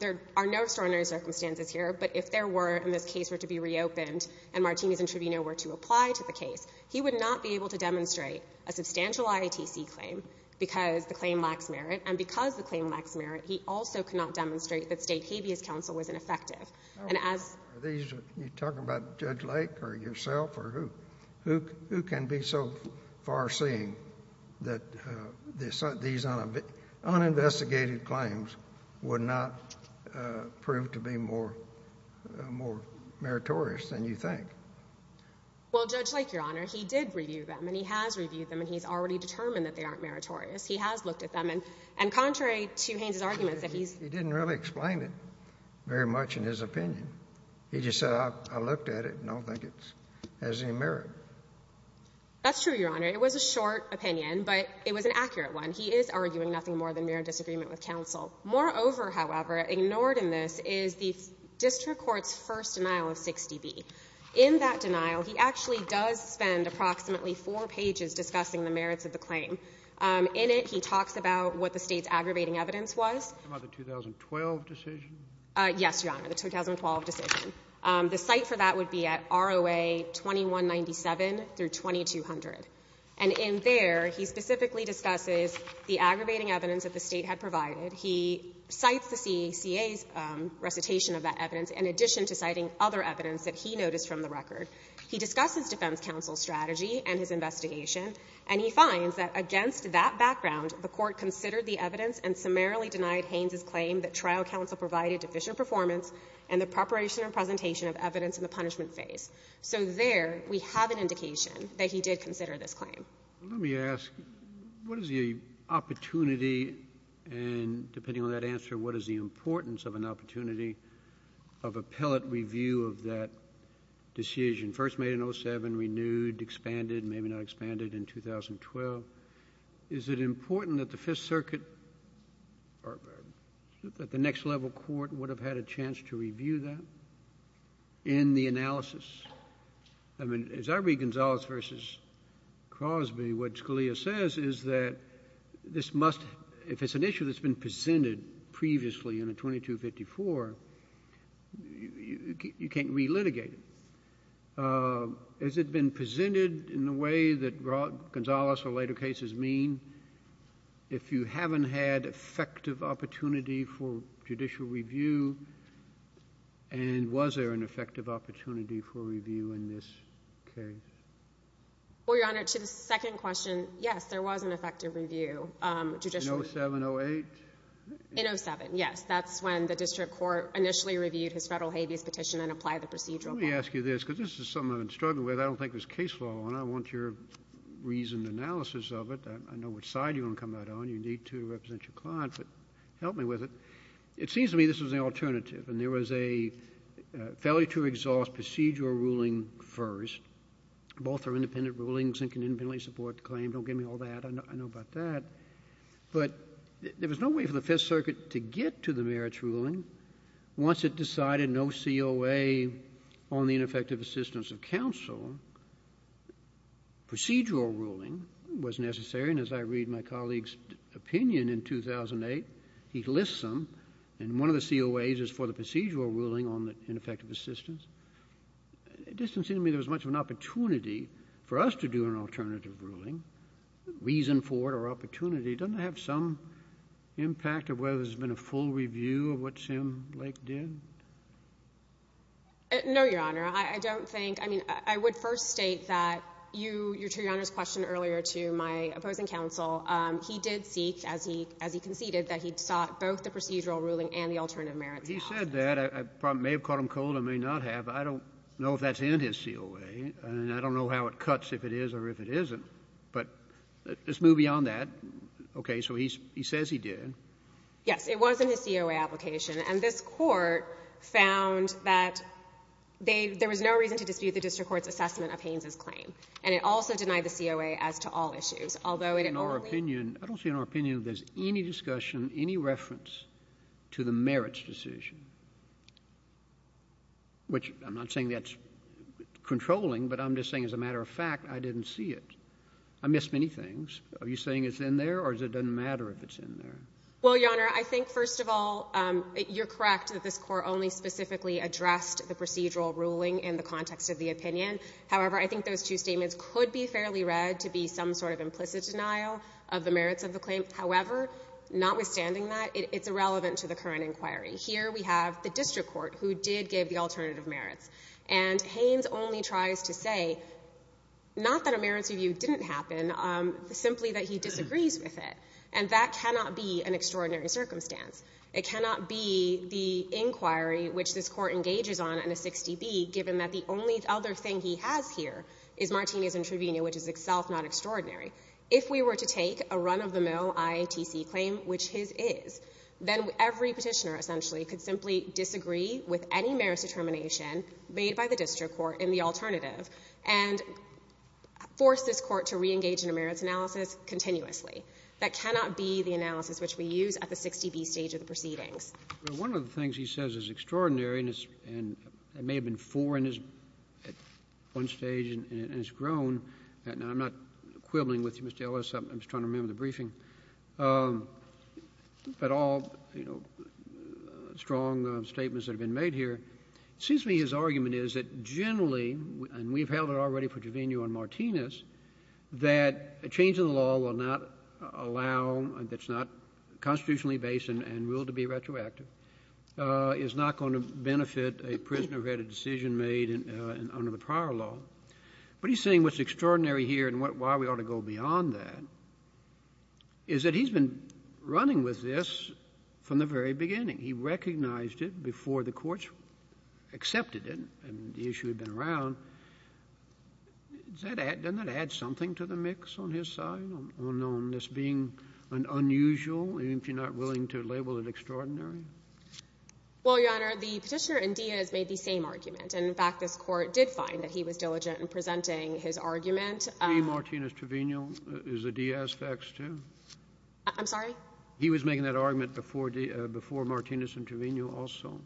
There are no extraordinary circumstances here, but if there were, and this case were to be reopened, and Martinez intraveneo were to apply to the case, he would not be able to demonstrate a substantial IATC claim because the claim lacks merit. And because the claim lacks merit, he also could not demonstrate that State Habeas Council was ineffective. And as — These — you're talking about Judge Lake or yourself or who? Who can be so far-seeing that these uninvestigated claims would not prove to be more — more meritorious than you think? Well, Judge Lake, Your Honor, he did review them, and he has reviewed them, and he's already determined that they aren't meritorious. He has looked at them. And contrary to Haynes's arguments, if he's — He didn't really explain it very much in his opinion. He just said, I looked at it, and I don't think it has any merit. That's true, Your Honor. It was a short opinion, but it was an accurate one. He is arguing nothing more than mere disagreement with counsel. Moreover, however, ignored in this is the district court's first denial of 60B. In that denial, he actually does spend approximately four pages discussing the merits of the claim. In it, he talks about what the State's aggravating evidence was. About the 2012 decision? Yes, Your Honor, the 2012 decision. The cite for that would be at ROA 2197 through 2200. And in there, he specifically discusses the aggravating evidence that the State had provided. He cites the CACA's recitation of that evidence in addition to citing other evidence that he noticed from the record. He discusses defense counsel's strategy and his investigation, and he finds that against that background, the Court considered the evidence and summarily denied Haynes's claim that trial counsel provided deficient performance and the preparation and presentation of evidence in the punishment phase. So there, we have an indication that he did consider this claim. Let me ask, what is the opportunity and, depending on that answer, what is the importance of an opportunity of appellate review of that decision, first made in 07, renewed, expanded, maybe not expanded in 2012? Is it important that the Fifth Circuit or that the next level court would have had a chance to review that in the analysis? I mean, as I read Gonzales v. Crosby, what Scalia says is that this must, if it's an issue that's been presented previously in a 2254, you can't relitigate it. Has it been presented in the way that Gonzales or later cases mean? If you haven't had effective opportunity for judicial review, and was there an effective opportunity for review in this case? Well, Your Honor, to the second question, yes, there was an effective review, judicial review. In 07, 08? In 07, yes. That's when the district court initially reviewed his Federal habeas petition and applied the procedural. Let me ask you this, because this is something I've been struggling with. I don't think there's case law on it. I want your reasoned analysis of it. I know which side you're going to come out on. You need to represent your client, but help me with it. It seems to me this was an alternative, and there was a failure to exhaust procedural ruling first. Both are independent rulings and can independently support the claim. Don't give me all that. I know about that. But there was no way for the Fifth Circuit to get to the merits ruling once it decided no COA on the ineffective assistance of counsel. Procedural ruling was necessary, and as I read my colleague's opinion in 2008, he lists them, and one of the COAs is for the procedural ruling on the ineffective assistance. It doesn't seem to me there was much of an opportunity for us to do an alternative ruling, reason for it or opportunity. Doesn't it have some impact of whether there's been a full review of what Sim Lake did? No, Your Honor. I don't think — I mean, I would first state that you — to Your Honor's question earlier to my opposing counsel, he did seek, as he conceded, that he sought both the procedural ruling and the alternative merits. He said that. I may have caught him cold. I may not have. I don't know if that's in his COA, and I don't know how it cuts, if it is or if it isn't. But let's move beyond that. Okay. So he says he did. Yes. It was in his COA application. And this Court found that they — there was no reason to dispute the district court's assessment of Haynes's claim. And it also denied the COA as to all issues, although it in all — In our opinion — I don't see in our opinion if there's any discussion, any reference to the merits decision, which I'm not saying that's controlling, but I'm just saying as a matter of fact, I didn't see it. I missed many things. Are you saying it's in there, or it doesn't matter if it's in there? Well, Your Honor, I think, first of all, you're correct that this Court only specifically addressed the procedural ruling in the context of the opinion. However, I think those two statements could be fairly read to be some sort of implicit denial of the merits of the claim. However, notwithstanding that, it's irrelevant to the current inquiry. Here we have the district court who did give the alternative merits. And Haynes only tries to say, not that a merits review didn't happen, simply that he disagrees with it. And that cannot be an extraordinary circumstance. It cannot be the inquiry which this Court engages on in a 60B, given that the only other thing he has here is Martinez and Trevino, which is itself not extraordinary. If we were to take a run-of-the-mill IATC claim, which his is, then every Petitioner essentially could simply disagree with any merits determination made by the district court in the alternative and force this Court to reengage in a merits analysis continuously. That cannot be the analysis which we use at the 60B stage of the proceedings. One of the things he says is extraordinary, and it may have been four at one stage and it's grown. Now, I'm not quibbling with you, Mr. Ellis. I'm just trying to remember the briefing. But all, you know, strong statements have been made here. It seems to me his argument is that generally, and we've held it already for Trevino and Martinez, that a change in the law will not allow, that's not constitutionally based and ruled to be retroactive, is not going to benefit a prisoner who had a decision made under the prior law. But he's saying what's extraordinary here and why we ought to go beyond that is that he's been running with this from the very beginning. He recognized it before the courts accepted it and the issue had been around. Doesn't that add something to the mix on his side, on this being an unusual, even if you're not willing to label it extraordinary? Well, Your Honor, the Petitioner and Diaz made the same argument. And, in fact, this Court did find that he was diligent in presenting his argument. The Martinez-Trevino is a Diaz fax, too? I'm sorry? He was making that argument before Martinez and Trevino also,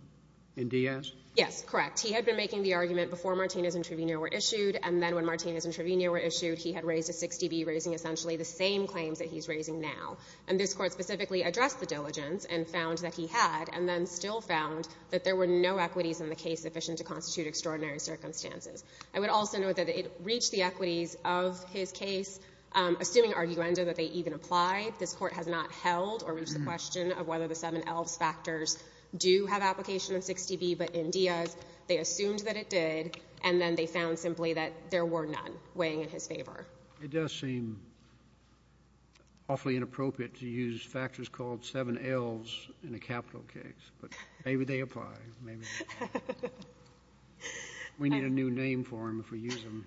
in Diaz? Yes, correct. He had been making the argument before Martinez and Trevino were issued, and then when Martinez and Trevino were issued, he had raised a 6dB, raising essentially the same claims that he's raising now. And this Court specifically addressed the diligence and found that he had, and then still found that there were no equities in the case sufficient to constitute extraordinary circumstances. I would also note that it reached the equities of his case, assuming arguendo that they even apply. This Court has not held or reached the question of whether the 7Ls factors do have application of 6dB. But in Diaz, they assumed that it did, and then they found simply that there were none weighing in his favor. It does seem awfully inappropriate to use factors called 7Ls in a capital case. But maybe they apply. Maybe they don't. We need a new name for them if we use them.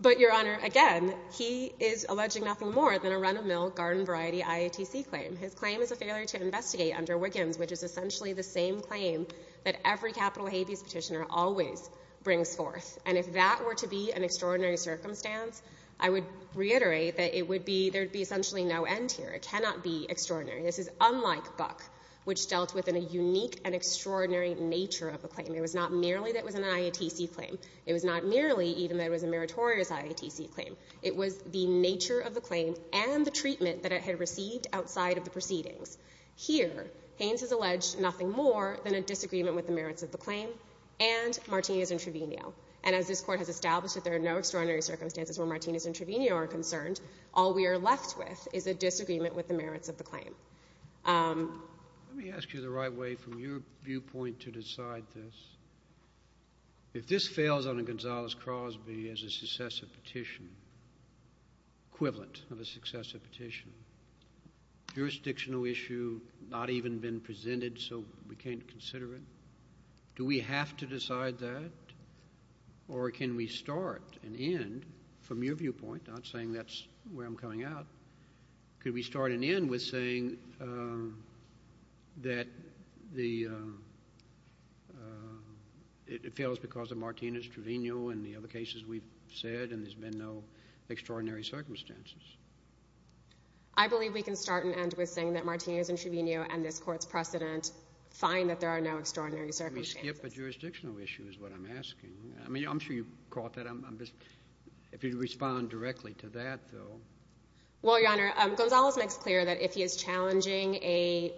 But, Your Honor, again, he is alleging nothing more than a run-of-mill garden variety IATC claim. His claim is a failure to investigate under Wiggins, which is essentially the same claim that every capital habeas petitioner always brings forth. And if that were to be an extraordinary circumstance, I would reiterate that it would be — there would be essentially no end here. It cannot be extraordinary. This is unlike Buck, which dealt with a unique and extraordinary nature of the claim. It was not merely that it was an IATC claim. It was not merely even that it was a meritorious IATC claim. It was the nature of the claim and the treatment that it had received outside of the proceedings. Here, Haynes has alleged nothing more than a disagreement with the merits of the claim and Martinez-Entrevino. And as this Court has established that there are no extraordinary circumstances where Martinez-Entrevino are concerned, all we are left with is a disagreement with the merits of the claim. Let me ask you the right way from your viewpoint to decide this. If this fails under Gonzales-Crosby as a successor petition, equivalent of a successor petition, jurisdictional issue not even been presented so we can't consider it, do we have to decide that? Or can we start and end from your viewpoint, not saying that's where I'm coming out, could we start and end with saying that it fails because of Martinez- Entrevino and the other cases we've said and there's been no extraordinary circumstances? I believe we can start and end with saying that Martinez-Entrevino and this Court's precedent find that there are no extraordinary circumstances. Let me skip a jurisdictional issue is what I'm asking. I mean, I'm sure you caught that. If you'd respond directly to that, though. Well, Your Honor, Gonzales makes clear that if he is challenging a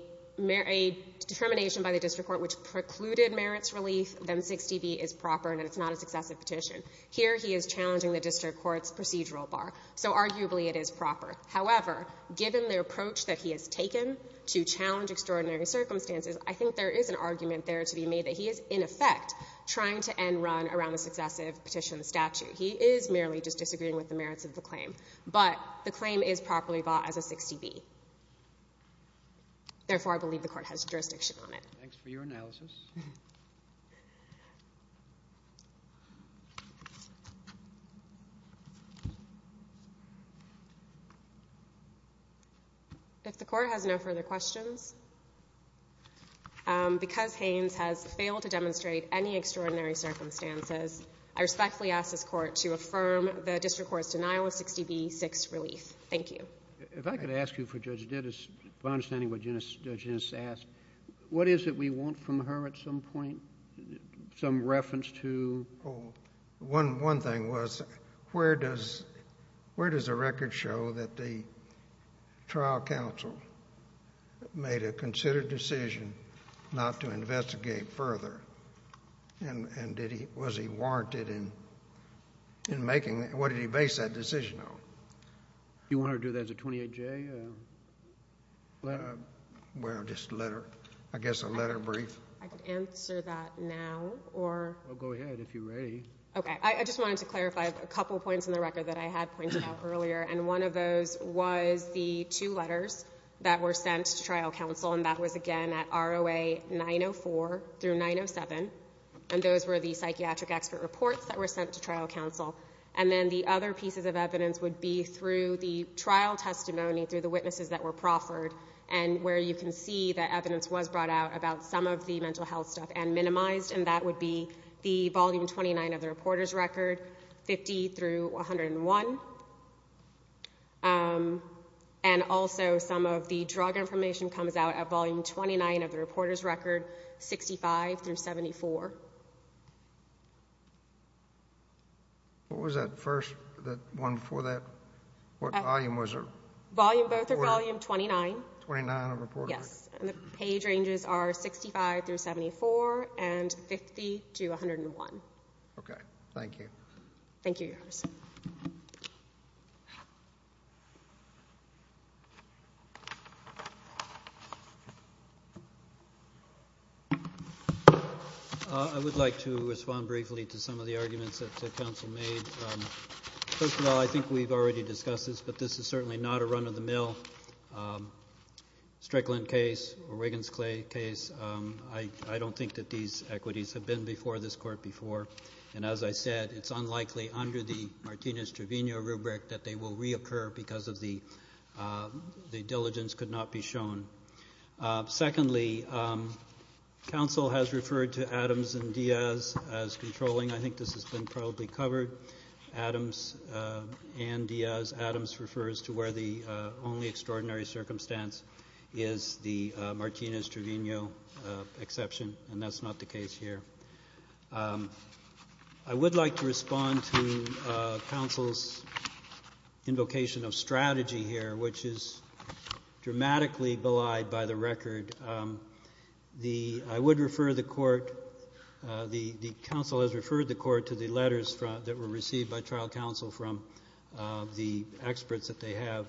determination by the district court which precluded merits relief, then 60B is proper and it's not a successive petition. Here he is challenging the district court's procedural bar. So arguably it is proper. However, given the approach that he has taken to challenge extraordinary circumstances, I think there is an argument there to be made that he is, in effect, trying to end run around a successive petition statute. He is merely just disagreeing with the merits of the claim. But the claim is properly bought as a 60B. Therefore, I believe the Court has jurisdiction on it. Thanks for your analysis. If the Court has no further questions, because Haynes has failed to demonstrate any extraordinary circumstances, I respectfully ask this Court to affirm the district court's denial of 60B, 6, relief. Thank you. If I could ask you for Judge Dittus, my understanding of what Judge Dittus asked, what is it we want from her at some point, some reference to? Oh, one thing was where does the record show that the trial counsel made a considered decision not to investigate further? And was he warranted in making that? What did he base that decision on? You want her to do that as a 28J? Well, just a letter, I guess a letter brief. I could answer that now. Well, go ahead if you're ready. Okay. I just wanted to clarify a couple points in the record that I had pointed out earlier, and one of those was the two letters that were sent to trial counsel, and that was, again, at ROA 904 through 907. And those were the psychiatric expert reports that were sent to trial counsel. And then the other pieces of evidence would be through the trial testimony, through the witnesses that were proffered, and where you can see that evidence was brought out about some of the mental health stuff and minimized, and that would be the volume 29 of the reporter's record, 50 through 101. And also some of the drug information comes out at volume 29 of the reporter's record, 65 through 74. What was that first, that one before that? What volume was it? Both are volume 29. 29 of the reporter's record. Yes. And the page ranges are 65 through 74 and 50 to 101. Okay. Thank you. Thank you, Your Honor. I would like to respond briefly to some of the arguments that counsel made. First of all, I think we've already discussed this, but this is certainly not a run-of-the-mill Strickland case or Wiggins Clay case. I don't think that these equities have been before this Court before. And as I said, it's unlikely under the Martinez-Trevino rubric that they will reoccur because the diligence could not be shown. Secondly, counsel has referred to Adams and Diaz as controlling. I think this has been probably covered. Adams and Diaz. Adams refers to where the only extraordinary circumstance is the Martinez-Trevino exception, and that's not the case here. I would like to respond to counsel's invocation of strategy here, which is dramatically belied by the record. I would refer the Court, the counsel has referred the Court to the letters that were received by trial counsel from the experts that they have.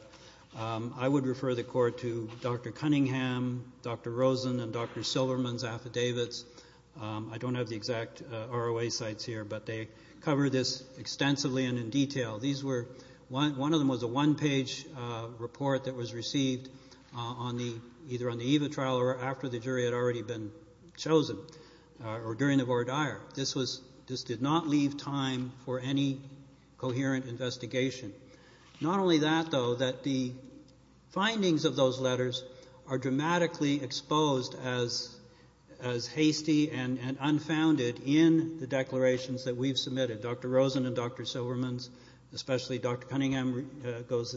I would refer the Court to Dr. Cunningham, Dr. Rosen, and Dr. Silverman's affidavits. I don't have the exact ROA sites here, but they cover this extensively and in detail. One of them was a one-page report that was received either on the eve of trial or after the jury had already been chosen or during the voir dire. This did not leave time for any coherent investigation. Not only that, though, that the findings of those letters are dramatically exposed as hasty and unfounded in the declarations that we've submitted. Dr. Rosen and Dr. Silverman's, especially Dr. Cunningham's, goes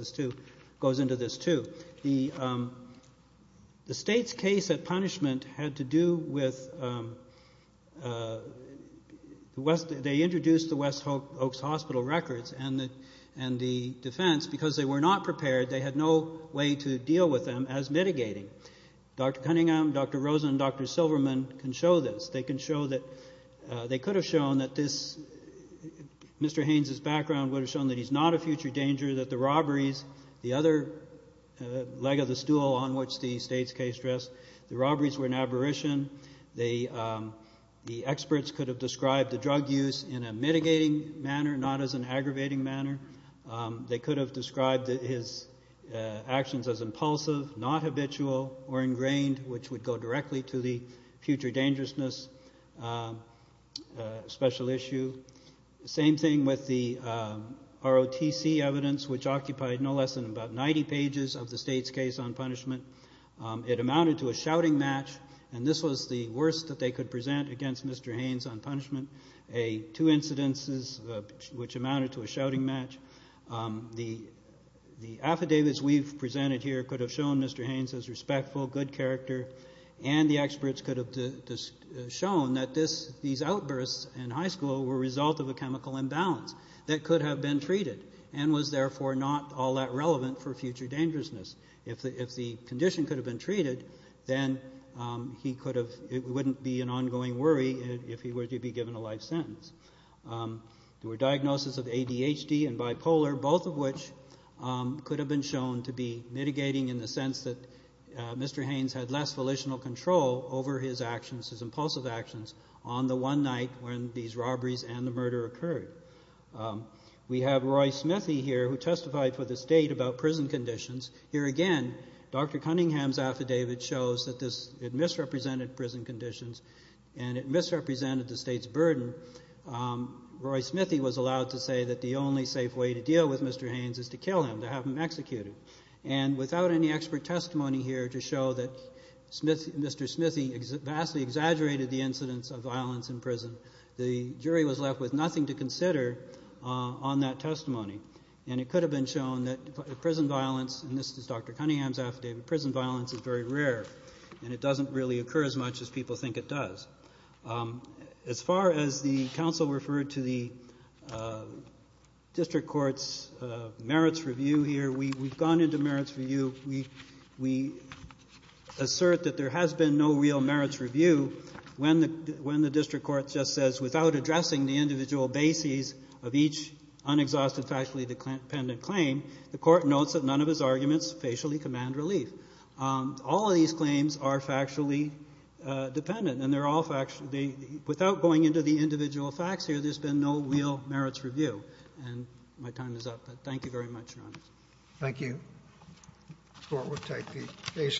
into this too. The state's case at punishment had to do with the West, Oaks Hospital records and the defense. Because they were not prepared, they had no way to deal with them as mitigating. Dr. Cunningham, Dr. Rosen, and Dr. Silverman can show this. They could have shown that this, Mr. Haynes's background would have shown that he's not a future danger, that the robberies, the other leg of the stool on which the state's case rests, the robberies were an aberration. The experts could have described the drug use in a mitigating manner, not as an aggravating manner. They could have described his actions as impulsive, not habitual, or ingrained, which would go directly to the future dangerousness special issue. Same thing with the ROTC evidence, which occupied no less than about 90 pages of the state's case on punishment. It amounted to a shouting match, and this was the worst that they could present against Mr. Haynes on punishment. Two incidences which amounted to a shouting match. The affidavits we've presented here could have shown Mr. Haynes as respectful, good character, and the experts could have shown that these outbursts in high school were a result of a chemical imbalance that could have been treated and was therefore not all that relevant for future dangerousness If the condition could have been treated, then it wouldn't be an ongoing worry if he were to be given a life sentence. There were diagnoses of ADHD and bipolar, both of which could have been shown to be mitigating in the sense that Mr. Haynes had less volitional control over his actions, his impulsive actions, on the one night when these robberies and the murder occurred. We have Roy Smithy here who testified for the state about prison conditions. Here again, Dr. Cunningham's affidavit shows that it misrepresented prison conditions and it misrepresented the state's burden. Roy Smithy was allowed to say that the only safe way to deal with Mr. Haynes is to kill him, to have him executed. And without any expert testimony here to show that Mr. Smithy vastly exaggerated the incidence of violence in prison, the jury was left with nothing to consider on that testimony. And it could have been shown that prison violence, and this is Dr. Cunningham's affidavit, prison violence is very rare and it doesn't really occur as much as people think it does. As far as the counsel referred to the district court's merits review here, we've gone into merits review. We assert that there has been no real merits review when the district court just says, without addressing the individual bases of each unexhausted factually dependent claim, the court notes that none of his arguments facially command relief. All of these claims are factually dependent, and they're all factually. Without going into the individual facts here, there's been no real merits review. And my time is up, but thank you very much, Your Honor. Thank you.